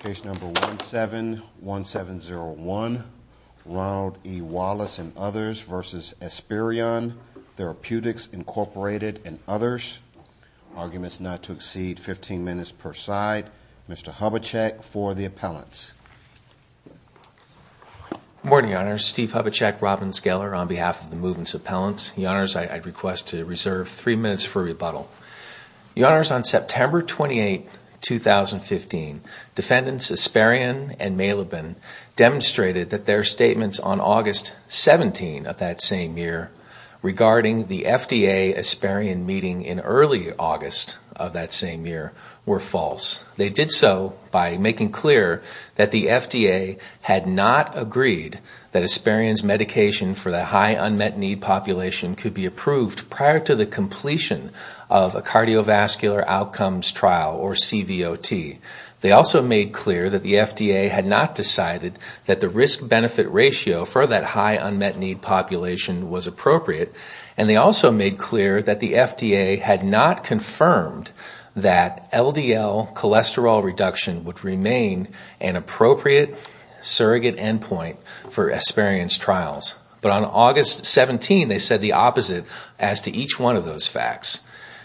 Case number 171701, Ronald E. Wallace and others versus Esperion Therapeutics Incorporated and others. Arguments not to exceed 15 minutes per side. Mr. Hubachek for the appellants. Good morning, your honors. Steve Hubachek, Robbins Geller on behalf of the movements appellants. Your honors, I'd request to reserve three minutes for rebuttal. Your honors, on September 28, 2015, defendants Esperion and Malibin demonstrated that their statements on August 17 of that same year regarding the FDA-Esperion meeting in early August of that same year were false. They did so by making clear that the FDA had not agreed that Esperion's medication for the high unmet need population could be approved prior to the completion of a cardiovascular outcomes trial, or CVOT. They also made clear that the FDA had not decided that the risk-benefit ratio for that high unmet need population was appropriate, and they also made clear that the FDA had not confirmed that LDL cholesterol reduction would remain an appropriate surrogate endpoint for Esperion's trials. But on August 17, they said the opposite as to each one of those facts.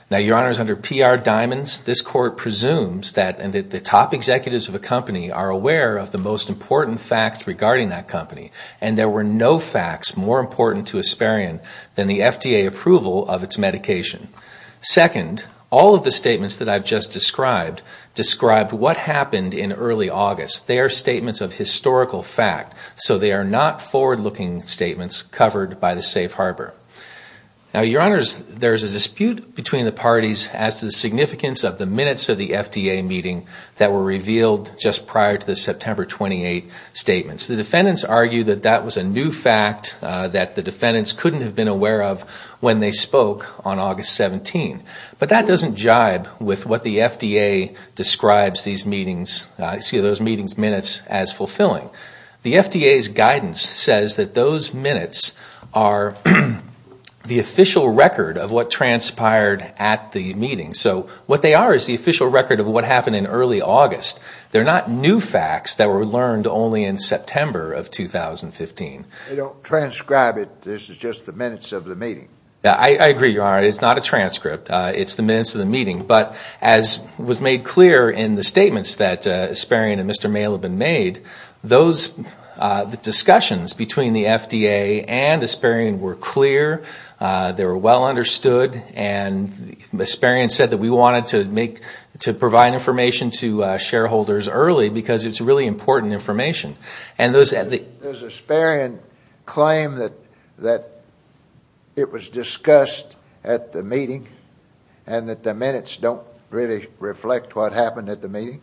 Now, your honors, under PR Diamonds, this court presumes that the top executives of a company are aware of the most important facts regarding that company, and there were no facts more important to Esperion than the FDA approval of its medication. Second, all of the statements that I've just described described what happened in early August. They are statements of historical fact, so they are not forward-looking statements covered by Safe Harbor. Now, your honors, there's a dispute between the parties as to the significance of the minutes of the FDA meeting that were revealed just prior to the September 28 statements. The defendants argue that that was a new fact that the defendants couldn't have been aware of when they spoke on August 17, but that doesn't jibe with what the FDA describes these meetings, excuse me, those meetings minutes as fulfilling. The FDA's guidance says that those minutes are the official record of what transpired at the meeting, so what they are is the official record of what happened in early August. They're not new facts that were learned only in September of 2015. They don't transcribe it, this is just the minutes of the meeting. I agree, your honor, it's not a transcript, it's the minutes of the meeting, but as was made clear in the statements that Esperion and Mr. Male have been made, those discussions between the FDA and Esperion were clear, they were well understood, and Esperion said that we wanted to provide information to shareholders early because it's really important information. Does Esperion claim that it was discussed at the meeting and that the minutes don't really reflect what happened at the meeting?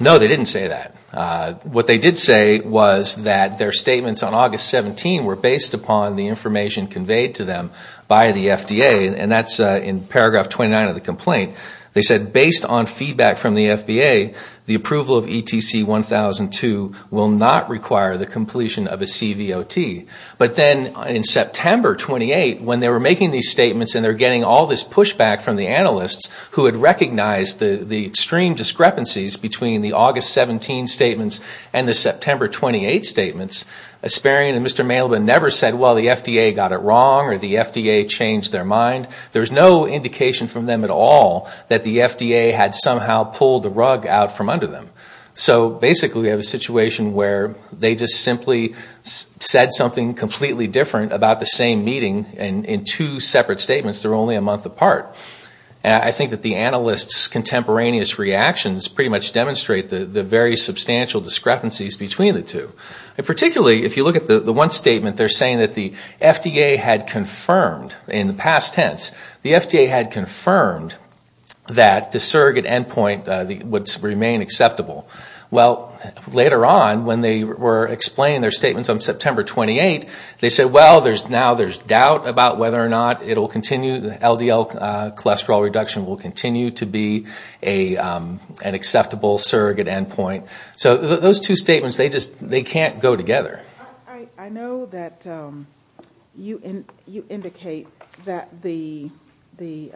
No, they didn't say that. What they did say was that their statements on August 17 were based upon the information conveyed to them by the FDA, and that's in paragraph 29 of the complaint. They said based on feedback from the FDA, the approval of ETC 1002 will not require the completion of a CVOT, but then in September 28, when they were making these statements and they're getting all this pushback from the analysts who had recognized the extreme discrepancies between the August 17 statements and the September 28 statements, Esperion and Mr. Male have never said, well, the FDA got it wrong or the FDA changed their mind. There's no indication from them at all that the FDA had somehow pulled the rug out from under them. So basically we have a situation where they just simply said something completely different about the same meeting in two separate statements that are only a month apart. I think that the analysts' contemporaneous reactions pretty much demonstrate the very substantial discrepancies between the two. Particularly if you look at the one statement, they're saying that the FDA had confirmed, in the past tense, the FDA had confirmed that the surrogate endpoint would remain acceptable. Well, later on when they were explaining their statements on September 28, they said, well, now there's doubt about whether or not LDL cholesterol reduction will continue to be an acceptable surrogate endpoint. So those two statements, they just can't go together. I know that you indicate that the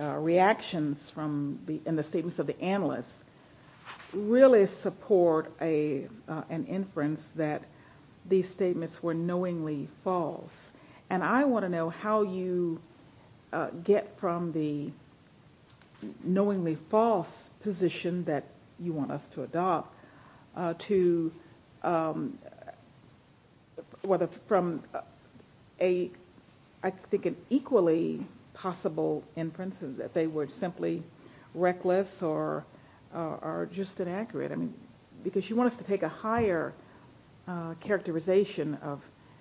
reactions in the statements of the analysts really support an inference that these statements were knowingly false. And I mean, knowingly false position that you want us to adopt to whether from a, I think, an equally possible inference that they were simply reckless or just inaccurate. I mean, because you want us to take a higher characterization of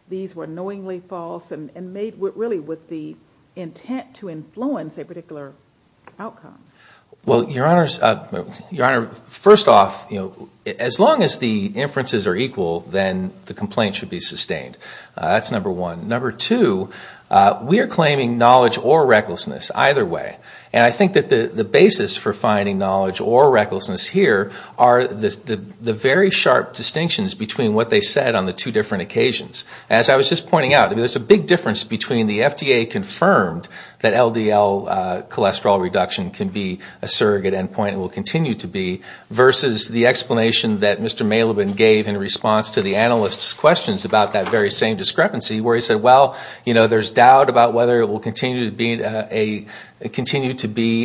these were knowingly false and made really with the intent to influence a Well, Your Honor, first off, as long as the inferences are equal, then the complaint should be sustained. That's number one. Number two, we are claiming knowledge or recklessness either way. And I think that the basis for finding knowledge or recklessness here are the very sharp distinctions between what they said on the two different occasions. As I was just pointing out, there's a big difference between the FDA confirmed that LDL cholesterol reduction can be a surrogate endpoint and will continue to be, versus the explanation that Mr. Mailoban gave in response to the analysts' questions about that very same discrepancy where he said, well, you know, there's doubt about whether it will continue to be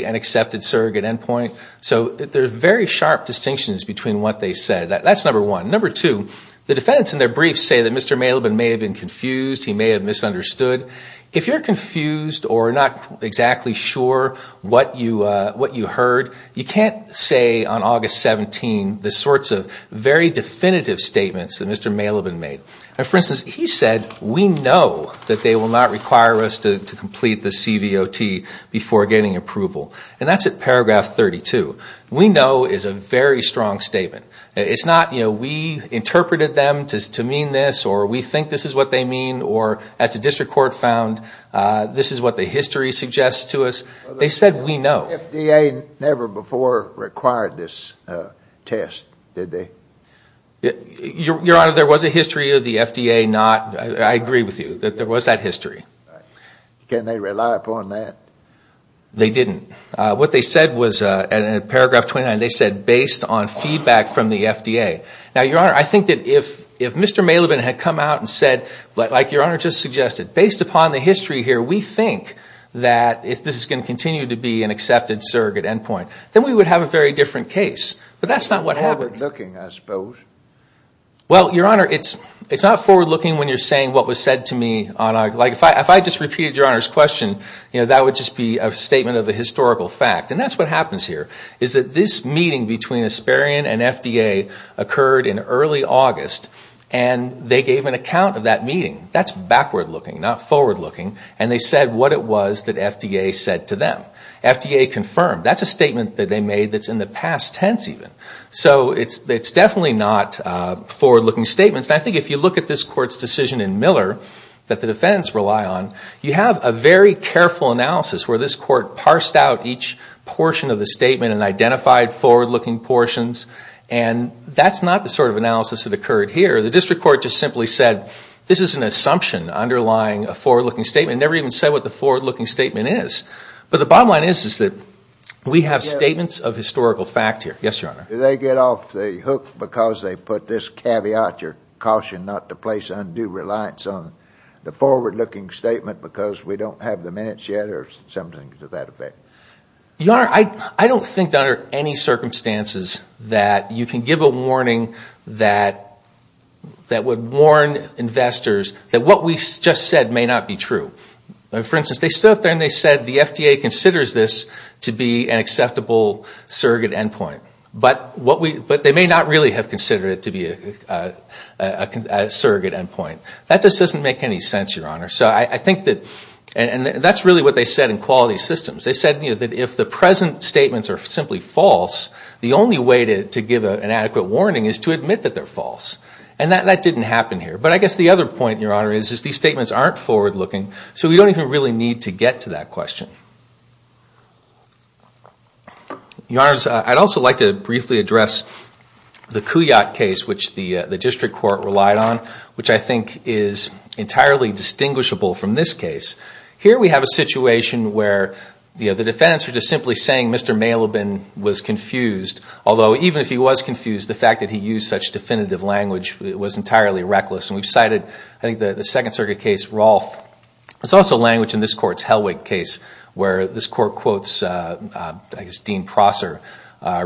an accepted surrogate endpoint. So there's very sharp distinctions between what they said. That's number one. Number two, the defendants in their brief say that Mr. Mailoban may have been confused. He may have misunderstood. If you're confused or not exactly sure what you heard, you can't say on August 17 the sorts of very definitive statements that Mr. Mailoban made. For instance, he said, we know that they will not require us to complete the CVOT before getting approval. And that's at paragraph 32. We know is a very strong statement. It's not, you know, we interpreted them to mean this, or we think this is what they mean, or as the district court found, this is what the history suggests to us. They said, we know. The FDA never before required this test, did they? Your Honor, there was a history of the FDA not, I agree with you, that there was that history. Can they rely upon that? They didn't. What they said was, in paragraph 29, they said, based on feedback from the FDA. Now, Your Honor, I think that if Mr. Mailoban had come out and said, like Your Honor just suggested, based upon the history here, we think that if this is going to continue to be an accepted surrogate endpoint, then we would have a very different case. But that's not what happened. It's forward looking, I suppose. Well, Your Honor, it's not forward looking when you're saying what was said to me on, like, if I just repeated Your Honor's question, you know, that would just be a statement of the historical fact. And that's what happens here, is that this meeting between Asparian and FDA occurred in early August, and they gave an account of that meeting. That's backward looking, not forward looking, and they said what it was that FDA said to them. FDA confirmed. That's a statement that they made that's in the past tense, even. So it's definitely not forward looking statements. And I think if you look at this Court's decision in Miller that the defendants rely on, you have a very careful analysis where this Court parsed out each portion of the statement and identified forward looking portions. And that's not the sort of analysis that occurred here. The district court just simply said, this is an assumption underlying a forward looking statement. It never even said what the forward looking statement is. But the bottom line is, is that we have statements of historical fact here. Yes, Your Honor. Did they get off the hook because they put this caveat, your caution not to place undue reliance on the forward looking statement because we don't have the minutes yet, or something to that effect? Your Honor, I don't think under any circumstances that you can give a that would warn investors that what we just said may not be true. For instance, they stood up there and they said the FDA considers this to be an acceptable surrogate endpoint. But they may not really have considered it to be a surrogate endpoint. That just doesn't make any sense, Your Honor. So I think that, and that's really what they said in quality systems. They said that if the present statements are simply false, the only way to give an adequate warning is to admit that they're false. And that didn't happen here. But I guess the other point, Your Honor, is these statements aren't forward looking. So we don't even really need to get to that question. Your Honors, I'd also like to briefly address the Couillat case, which the district court relied on, which I think is entirely distinguishable from this case. Here we have a situation where the defendants are just simply saying, Mr. Malebin was confused. Although, even if he was confused, the fact that he used such definitive language was entirely reckless. And we've cited, I think, the Second Circuit case, Rolfe. It's also language in this court's Helwig case, where this court quotes, I guess, Dean Prosser,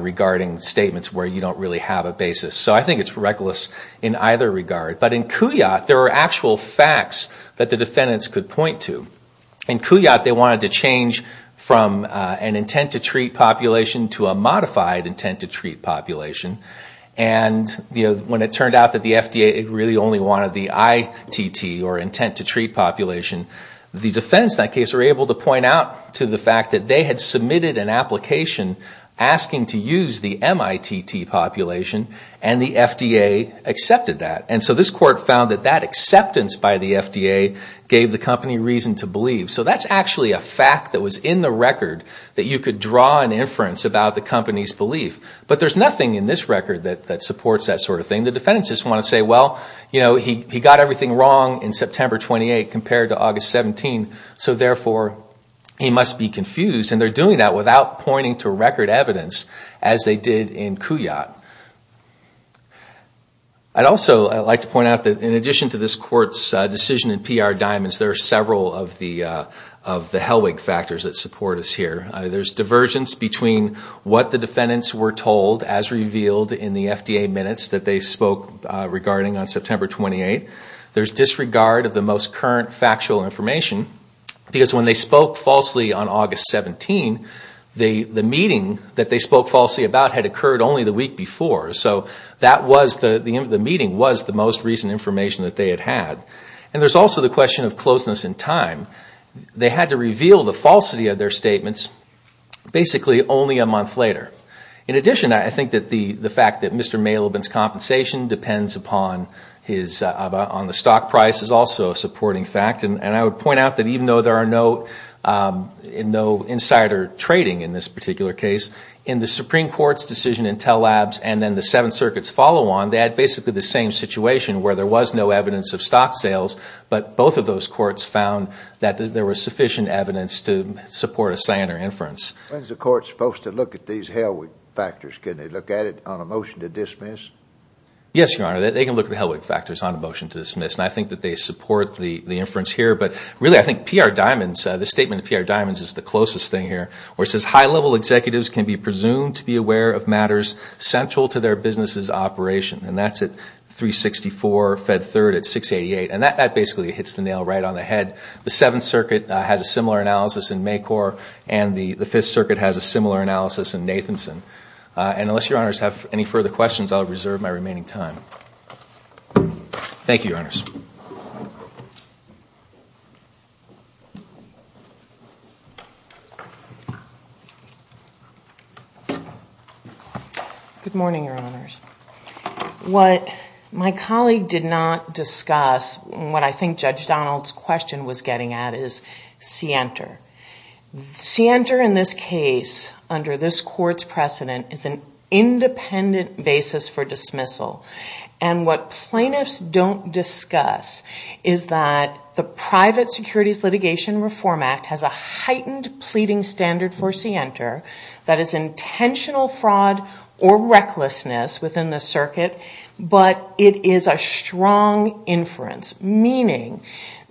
regarding statements where you don't really have a basis. So I think it's reckless in either regard. But in Couillat, there are actual facts that the defendants could point to. In Couillat, they wanted to change from an intent to treat population to a modified intent to treat population. And when it turned out that the FDA really only wanted the ITT, or intent to treat population, the defendants in that case were able to point out to the fact that they had submitted an application asking to use the MITT population, and the FDA accepted that. And so this court found that that acceptance by the FDA gave the company reason to believe. So that's actually a fact that was in the record that you could draw an inference about the company's belief. But there's nothing in this record that supports that sort of thing. The defendants just want to say, well, he got everything wrong in September 28 compared to August 17. So therefore, he must be confused. And they're doing that without pointing to record evidence, as they did in Couillat. I'd also like to point out that in addition to this court's decision in PR there's divergence between what the defendants were told as revealed in the FDA minutes that they spoke regarding on September 28. There's disregard of the most current factual information. Because when they spoke falsely on August 17, the meeting that they spoke falsely about had occurred only the week before. So the meeting was the most recent information that they had had. And there's also the question of closeness in time. They had to reveal the falsity of their statements basically only a month later. In addition, I think that the fact that Mr. Mailoban's compensation depends upon the stock price is also a supporting fact. And I would point out that even though there are no insider trading in this particular case, in the Supreme Court's decision in Tell Labs and then the Seventh Circuit's follow on, they had basically the same situation where there was no evidence of stock sales. But both of those courts found that there was sufficient evidence to support a Sioner inference. When's the court supposed to look at these Helwig factors? Can they look at it on a motion to dismiss? Yes, Your Honor, they can look at the Helwig factors on a motion to dismiss. And I think that they support the inference here. But really, I think PR Diamonds, the statement of PR Diamonds is the closest thing here, where it says high-level executives can be presumed to be aware of matters central to their business's operation. And that's at 364, Fed Third at 688. And that basically hits the nail right on the head. The Seventh Circuit has a similar analysis in Maycor. And the Fifth Circuit has a similar analysis in Nathanson. And unless Your Honors have any further questions, I'll reserve my remaining time. Good morning, Your Honors. What my colleague did not discuss, and what I think Judge Donald's question was getting at, is Sienter. Sienter in this case, under this court's precedent, is an independent basis for dismissal. And what plaintiffs don't discuss is that the Private Securities Litigation Reform Act has a heightened pleading standard for Sienter that is intentional fraud or recklessness within the circuit, but it is a strong inference. Meaning,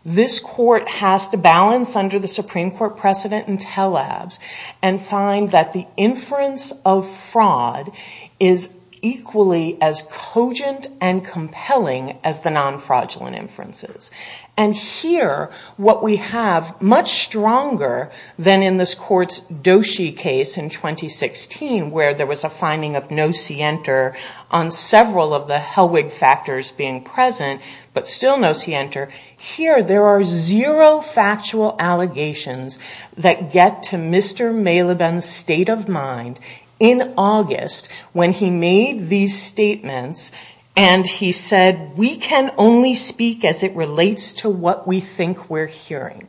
this court has to balance under the Supreme Court precedent and tell-abs and find that the inference of fraud is equally as cogent and compelling as the non-fraudulent inferences. And here, what we have, much stronger than in this court's Doshi case in 2016, where there was a finding of no Sienter on several of the Helwig factors being present, but still no Sienter. Here, there are zero factual allegations that get to Mr. Maleben's state of mind in August when he made these statements and he said, we can only speak as it relates to what we think we're hearing.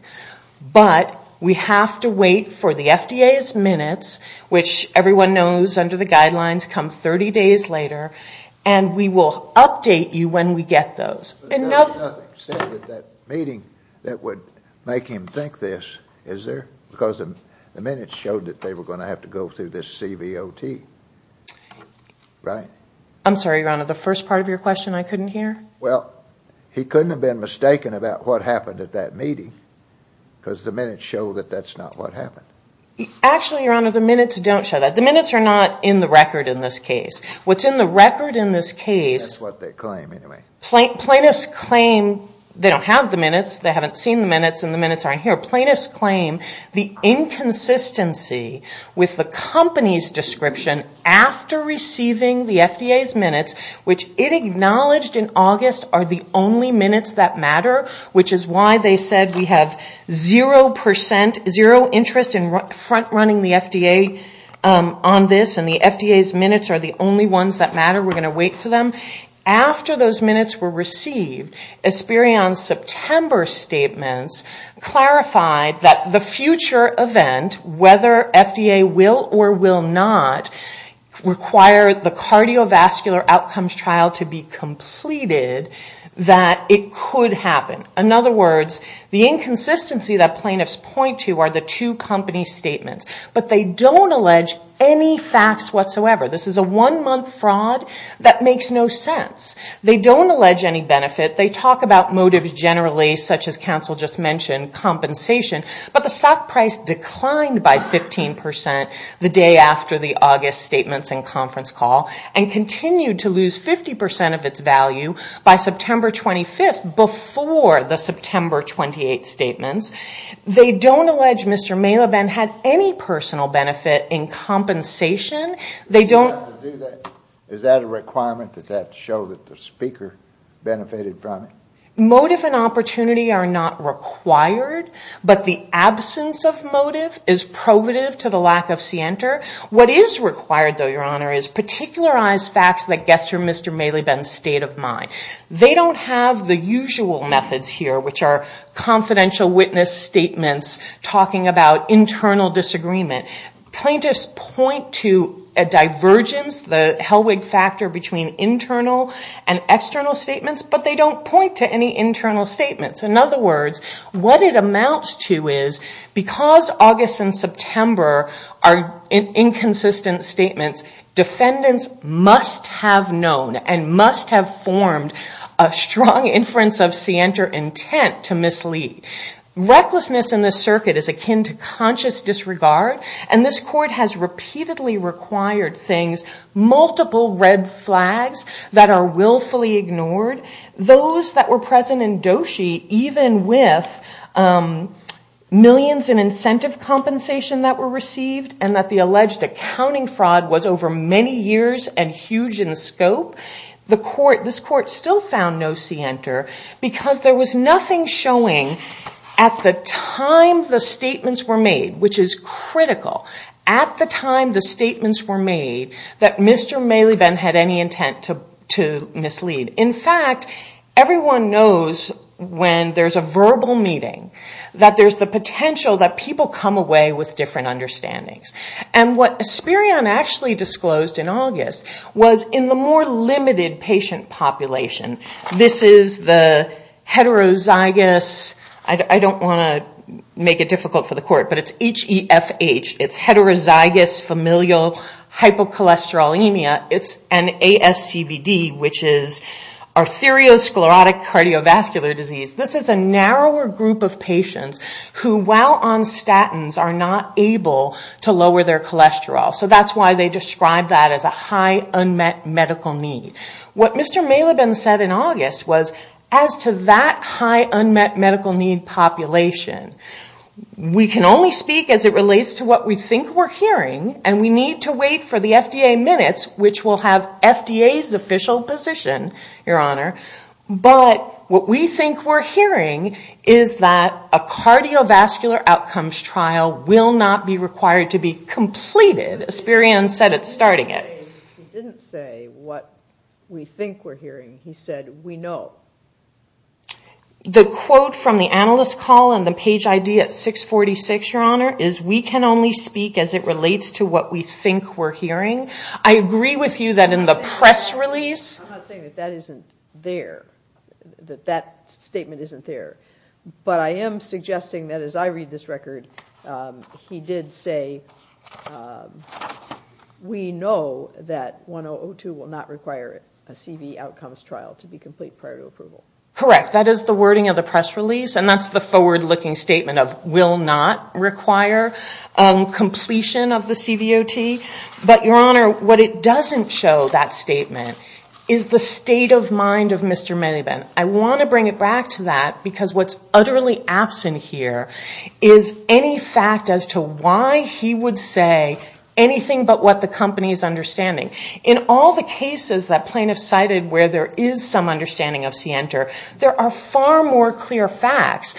But we have to wait for the FDA's minutes, which everyone knows under the guidelines come 30 days later, and we will update you when we get those. And nothing said at that meeting that would make him think this, is there? Because the minutes showed that they were gonna have to go through this CVOT, right? I'm sorry, Your Honor, the first part of your question I couldn't hear? Well, he couldn't have been mistaken about what happened at that meeting, because the minutes show that that's not what happened. Actually, Your Honor, the minutes don't show that. The minutes are not in the record in this case. What's in the record in this case. That's what they claim, anyway. Plaintiffs claim they don't have the minutes, they haven't seen the minutes, and the minutes aren't here. Plaintiffs claim the inconsistency with the company's description after receiving the FDA's minutes, which it acknowledged in August are the only minutes that matter, which is why they said we have zero percent, front-running the FDA on this, and the FDA's minutes are the only ones that matter, we're gonna wait for them. After those minutes were received, Esperion's September statements clarified that the future event, whether FDA will or will not, require the cardiovascular outcomes trial to be completed, that it could happen. In other words, the inconsistency that plaintiffs point to are the two company statements, but they don't allege any facts whatsoever. This is a one-month fraud that makes no sense. They don't allege any benefit. They talk about motives generally, such as counsel just mentioned, compensation, but the stock price declined by 15% the day after the August statements and conference call, and continued to lose 50% of its value by September 25th, before the September 28th statements. They don't allege Mr. Maileben had any personal benefit in compensation. They don't- Is that a requirement, does that show that the speaker benefited from it? Motive and opportunity are not required, but the absence of motive is provative to the lack of scienter. What is required, though, your honor, is particularized facts that gesture Mr. Maileben's state of mind. They don't have the usual methods here, which are confidential witness statements talking about internal disagreement. Plaintiffs point to a divergence, the Helwig factor between internal and external statements, but they don't point to any internal statements. In other words, what it amounts to is because August and September are inconsistent statements, defendants must have known and must have formed a strong inference of scienter intent to mislead. Recklessness in this circuit is akin to conscious disregard, and this court has repeatedly required things, multiple red flags that are willfully ignored. Those that were present in Doshi, even with millions in incentive compensation that were received, and that the alleged accounting fraud was over many years and huge in scope, this court still found no scienter because there was nothing showing at the time the statements were made, which is critical, at the time the statements were made that Mr. Maileben had any intent to mislead. In fact, everyone knows when there's a verbal meeting that there's the potential that people come away with different understandings. And what Asperion actually disclosed in August was in the more limited patient population, this is the heterozygous, I don't wanna make it difficult for the court, but it's H-E-F-H, it's heterozygous familial hypocholesterolemia, it's an ASCVD, which is arteriosclerotic cardiovascular disease. This is a narrower group of patients who while on statins are not able to lower their cholesterol. So that's why they describe that as a high unmet medical need. What Mr. Maileben said in August was, as to that high unmet medical need population, we can only speak as it relates to what we think we're hearing, and we need to wait for the FDA minutes, which will have FDA's official position, Your Honor. But what we think we're hearing is that a cardiovascular outcomes trial will not be required to be completed, Asperion said at starting it. He didn't say what we think we're hearing, he said, we know. The quote from the analyst call and the page ID at 646, Your Honor, is we can only speak as it relates to what we think we're hearing. I agree with you that in the press release. I'm not saying that that isn't there, that that statement isn't there. But I am suggesting that as I read this record, he did say, we know that 1002 will not require a CV outcomes trial to be complete prior to approval. Correct, that is the wording of the press release, and that's the forward looking statement of will not require completion of the CVOT. But Your Honor, what it doesn't show that statement is the state of mind of Mr. Maiben. I want to bring it back to that because what's utterly absent here is any fact as to why he would say anything but what the company is understanding. In all the cases that plaintiffs cited where there is some understanding of CNTR, there are far more clear facts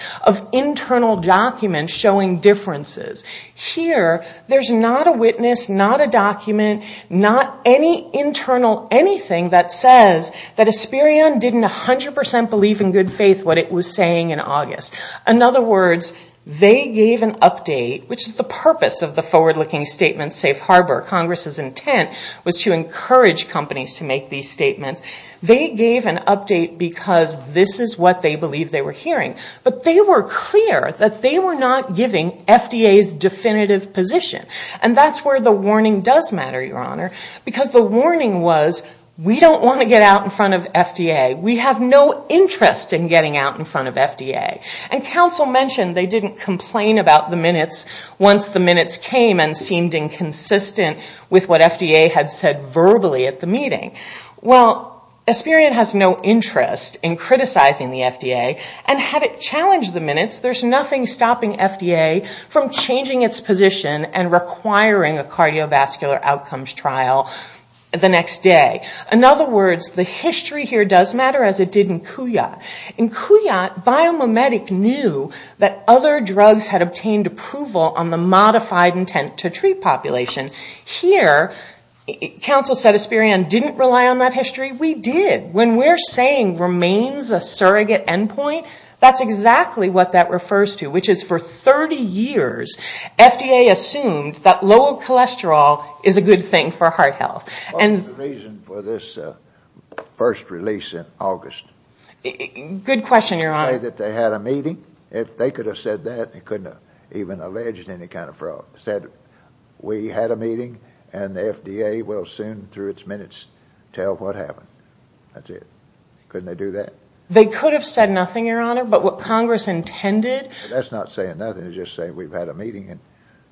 Here, there's not a witness, not a document, not any internal anything that says that Aspirion didn't 100% believe in good faith what it was saying in August. In other words, they gave an update, which is the purpose of the forward looking statement, safe harbor, Congress's intent was to encourage companies to make these statements. They gave an update because this is what they believe they were hearing. But they were clear that they were not giving FDA's definitive position. And that's where the warning does matter, Your Honor, because the warning was, we don't want to get out in front of FDA. We have no interest in getting out in front of FDA. And counsel mentioned they didn't complain about the minutes once the minutes came and seemed inconsistent with what FDA had said verbally at the meeting. Well, Aspirion has no interest in criticizing the FDA and had it challenged the minutes, there's nothing stopping FDA from changing its position and requiring a cardiovascular outcomes trial the next day. In other words, the history here does matter as it did in Couillat. In Couillat, Biomimetic knew that other drugs had obtained approval on the modified intent to treat population. Here, counsel said Aspirion didn't rely on that history. We did. When we're saying remains a surrogate endpoint, that's exactly what that refers to, which is for 30 years, FDA assumed that lower cholesterol is a good thing for heart health. And the reason for this first release in August. Good question, Your Honor. To say that they had a meeting, if they could have said that, they couldn't have even alleged any kind of fraud. Said, we had a meeting and the FDA will soon, through its minutes, tell what happened. That's it. Couldn't they do that? They could have said nothing, Your Honor, but what Congress intended. That's not saying nothing, it's just saying we've had a meeting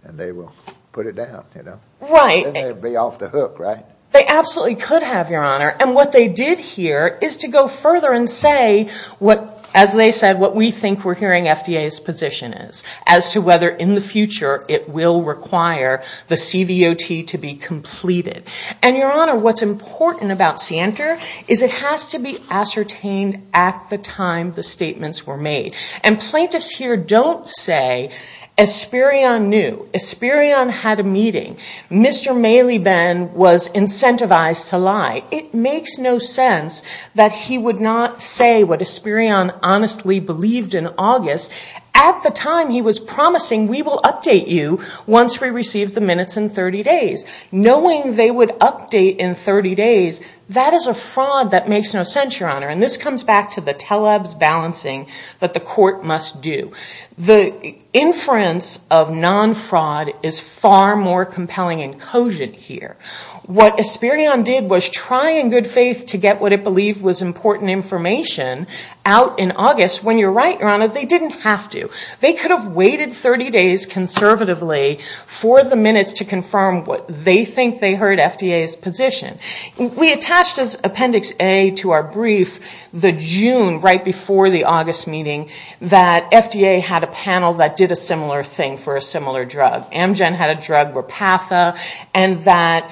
and they will put it down, you know? Right. Then they'd be off the hook, right? They absolutely could have, Your Honor. And what they did here is to go further and say what, as they said, what we think we're hearing FDA's position is as to whether in the future it will require the CVOT to be completed. And Your Honor, what's important about CNTR is it has to be ascertained at the time the statements were made. And plaintiffs here don't say, Esperion knew, Esperion had a meeting. Mr. Maleben was incentivized to lie. It makes no sense that he would not say what Esperion honestly believed in August at the time he was promising, we will update you once we receive the minutes in 30 days. Knowing they would update in 30 days, that is a fraud that makes no sense, Your Honor. And this comes back to the telebs balancing that the court must do. The inference of non-fraud is far more compelling and cogent here. What Esperion did was try in good faith to get what it believed was important information out in August. When you're right, Your Honor, they didn't have to. They could have waited 30 days conservatively for the minutes to confirm what they think they heard FDA's position. We attached as Appendix A to our brief the June right before the August meeting that FDA had a panel that did a similar thing for a similar drug. Amgen had a drug, Repatha, and that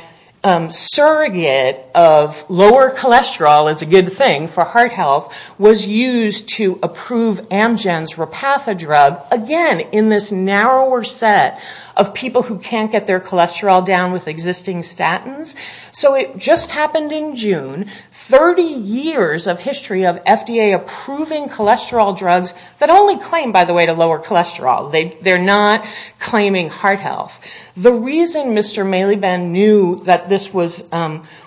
surrogate of lower cholesterol is a good thing for heart health was used to approve Amgen's Repatha drug, again, in this narrower set of people who can't get their cholesterol down with existing statins. So it just happened in June. 30 years of history of FDA-approving cholesterol drugs that only claim, by the way, to lower cholesterol. They're not claiming heart health. The reason Mr. Maliban knew that this was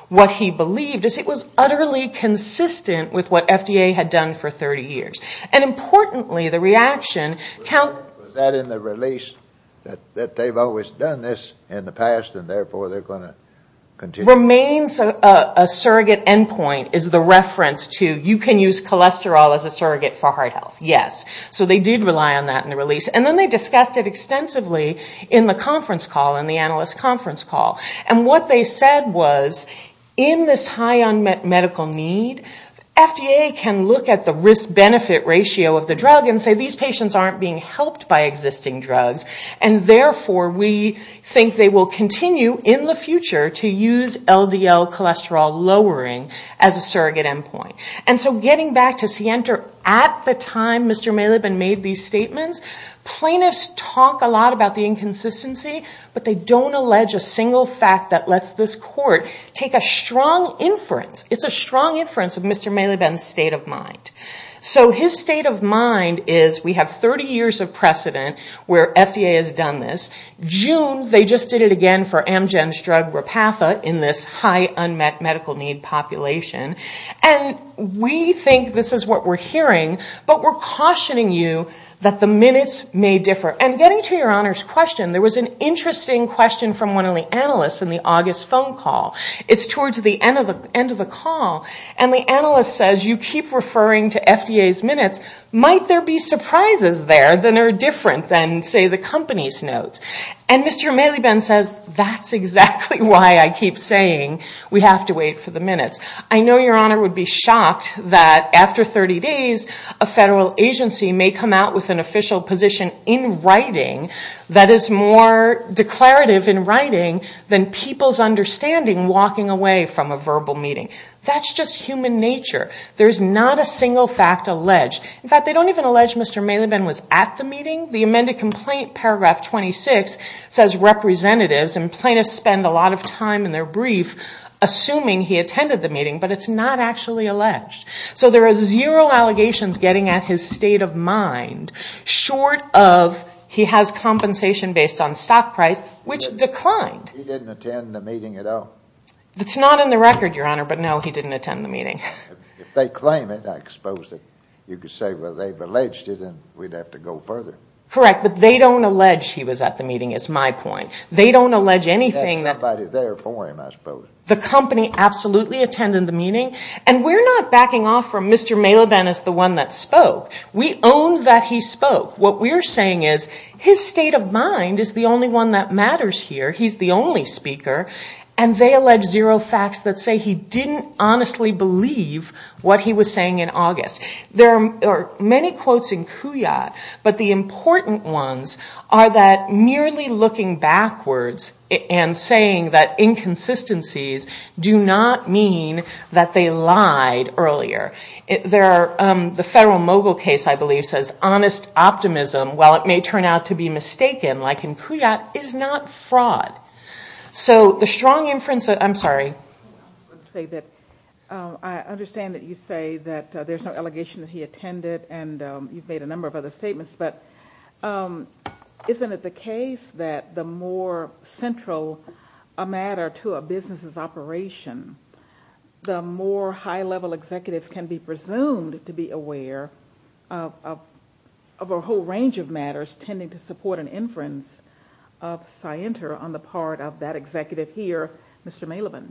what he believed is it was utterly consistent with what FDA had done for 30 years. And importantly, the reaction, count- Was that in the release that they've always done this in the past and therefore they're gonna continue- Remains a surrogate endpoint is the reference to, you can use cholesterol as a surrogate for heart health. Yes. So they did rely on that in the release. And then they discussed it extensively in the conference call, in the analyst conference call. And what they said was, in this high unmet medical need, FDA can look at the risk-benefit ratio of the drug and say these patients aren't being helped by existing drugs, and therefore we think they will continue in the future to use LDL cholesterol lowering as a surrogate endpoint. And so getting back to Sienter, at the time Mr. Maliban made these statements, plaintiffs talk a lot about the inconsistency, but they don't allege a single fact that lets this court take a strong inference. It's a strong inference of Mr. Maliban's state of mind. So his state of mind is, we have 30 years of precedent where FDA has done this. June, they just did it again for Amgen's drug, in this high unmet medical need population. And we think this is what we're hearing, but we're cautioning you that the minutes may differ. And getting to your honor's question, there was an interesting question from one of the analysts in the August phone call. It's towards the end of the call, and the analyst says, you keep referring to FDA's minutes, might there be surprises there that are different than say the company's notes? And Mr. Maliban says, that's exactly why I keep saying, we have to wait for the minutes. I know your honor would be shocked that after 30 days, a federal agency may come out with an official position in writing that is more declarative in writing than people's understanding walking away from a verbal meeting. That's just human nature. There's not a single fact alleged. In fact, they don't even allege Mr. Maliban was at the meeting. The amended complaint paragraph 26 says representatives, and plaintiffs spend a lot of time in their brief assuming he attended the meeting, but it's not actually alleged. So there is zero allegations getting at his state of mind short of he has compensation based on stock price, which declined. He didn't attend the meeting at all. It's not in the record, your honor, but no, he didn't attend the meeting. If they claim it, I suppose that you could say, well, they've alleged it and we'd have to go further. Correct, but they don't allege he was at the meeting is my point. They don't allege anything that- There's somebody there for him, I suppose. The company absolutely attended the meeting. And we're not backing off from Mr. Maliban as the one that spoke. We own that he spoke. What we're saying is his state of mind is the only one that matters here. He's the only speaker. And they allege zero facts that say he didn't honestly believe what he was saying in August. There are many quotes in Couillat, but the important ones are that merely looking backwards and saying that inconsistencies do not mean that they lied earlier. The Federal Mogul case, I believe, says honest optimism, while it may turn out to be mistaken, like in Couillat, is not fraud. So the strong inference, I'm sorry. Let's say that I understand that you say that there's no allegation that he attended and you've made a number of other statements, but isn't it the case that the more central a matter to a business's operation, the more high-level executives can be presumed to be aware of a whole range of matters tending to support an inference of scienter on the part of that executive here, Mr. Mailoban?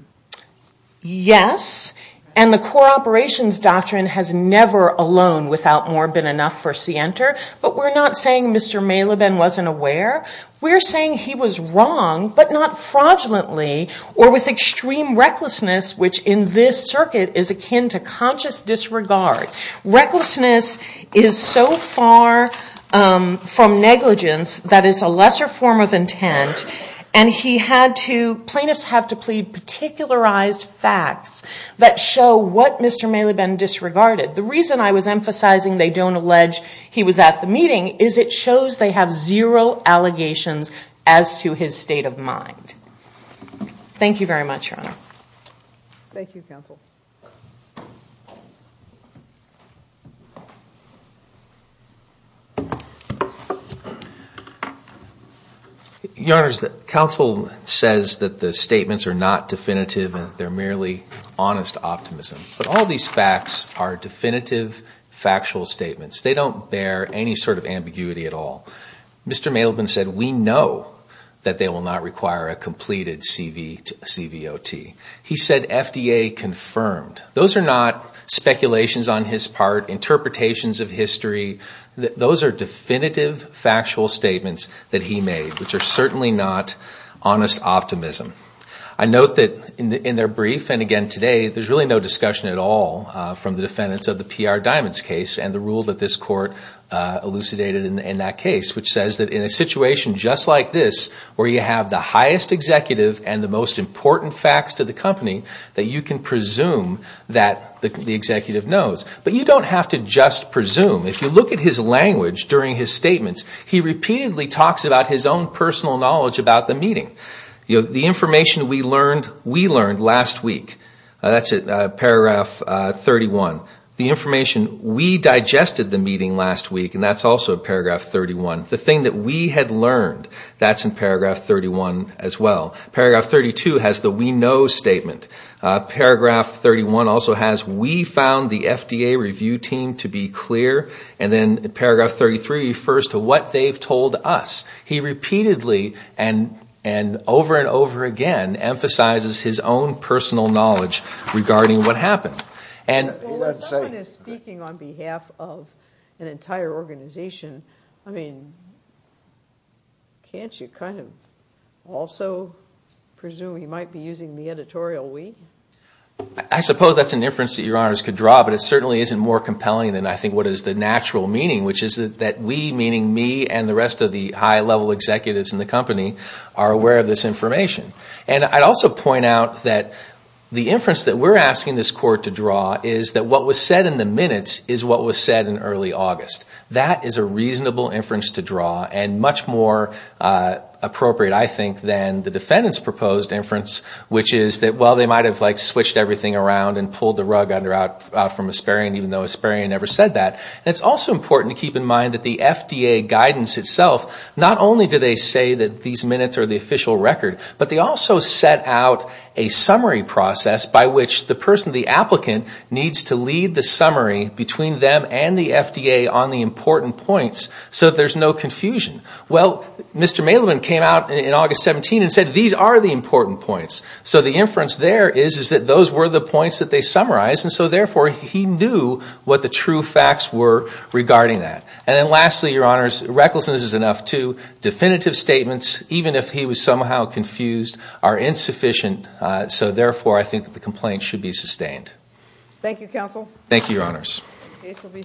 Yes, and the core operations doctrine has never alone, without more, been enough for scienter. But we're not saying Mr. Mailoban wasn't aware. We're saying he was wrong, but not fraudulently, or with extreme recklessness, which in this circuit is akin to conscious disregard. Recklessness is so far from negligence that is a lesser form of intent, and plaintiffs have to plead particularized facts that show what Mr. Mailoban disregarded. The reason I was emphasizing they don't allege he was at the meeting is it shows they have zero allegations as to his state of mind. Thank you very much, Your Honor. Thank you, counsel. Your Honor, counsel says that the statements are not definitive and they're merely honest optimism. But all these facts are definitive factual statements. They don't bear any sort of ambiguity at all. Mr. Mailoban said, we know that they will not require a completed CVOT. He said FDA confirmed. Those are not speculations on his part, interpretations of history. Those are definitive factual statements that he made, which are certainly not honest optimism. I note that in their brief, and again today, there's really no discussion at all from the defendants of the PR Diamonds case and the rule that this court elucidated in that case, which says that in a situation just like this, where you have the highest executive and the most important facts to the company, that you can presume that the executive knows. But you don't have to just presume. If you look at his language during his statements, he repeatedly talks about his own personal knowledge about the meeting. The information we learned last week, that's at paragraph 31. The information we digested the meeting last week, and that's also at paragraph 31. The thing that we had learned, that's in paragraph 31 as well. Paragraph 32 has the we know statement. Paragraph 31 also has, we found the FDA review team to be clear. And then paragraph 33 refers to what they've told us. He repeatedly, and over and over again, emphasizes his own personal knowledge regarding what happened. And let's say- Well, when someone is speaking on behalf of an entire organization, I mean, can't you kind of also presume he might be using the editorial we? I suppose that's an inference that your honors could draw, but it certainly isn't more compelling than I think what is the natural meaning, which is that we, meaning me, and the rest of the high-level executives in the company, are aware of this information. And I'd also point out that the inference that we're asking this court to draw is that what was said in the minutes is what was said in early August. That is a reasonable inference to draw, and much more appropriate, I think, than the defendant's proposed inference, which is that, well, they might have switched everything around and pulled the rug out from Asparian, even though Asparian never said that. And it's also important to keep in mind that the FDA guidance itself, not only do they say that these minutes are the official record, but they also set out a summary process by which the person, the applicant, needs to lead the summary between them and the FDA on the important points so that there's no confusion. Well, Mr. Mailman came out in August 17 and said these are the important points. So the inference there is is that those were the points that they summarized, and so therefore, he knew what the true facts were regarding that. And then lastly, Your Honors, recklessness is enough, too. Definitive statements, even if he was somehow confused, are insufficient, so therefore, I think that the complaint should be sustained. Thank you, Your Honors. Case will be submitted.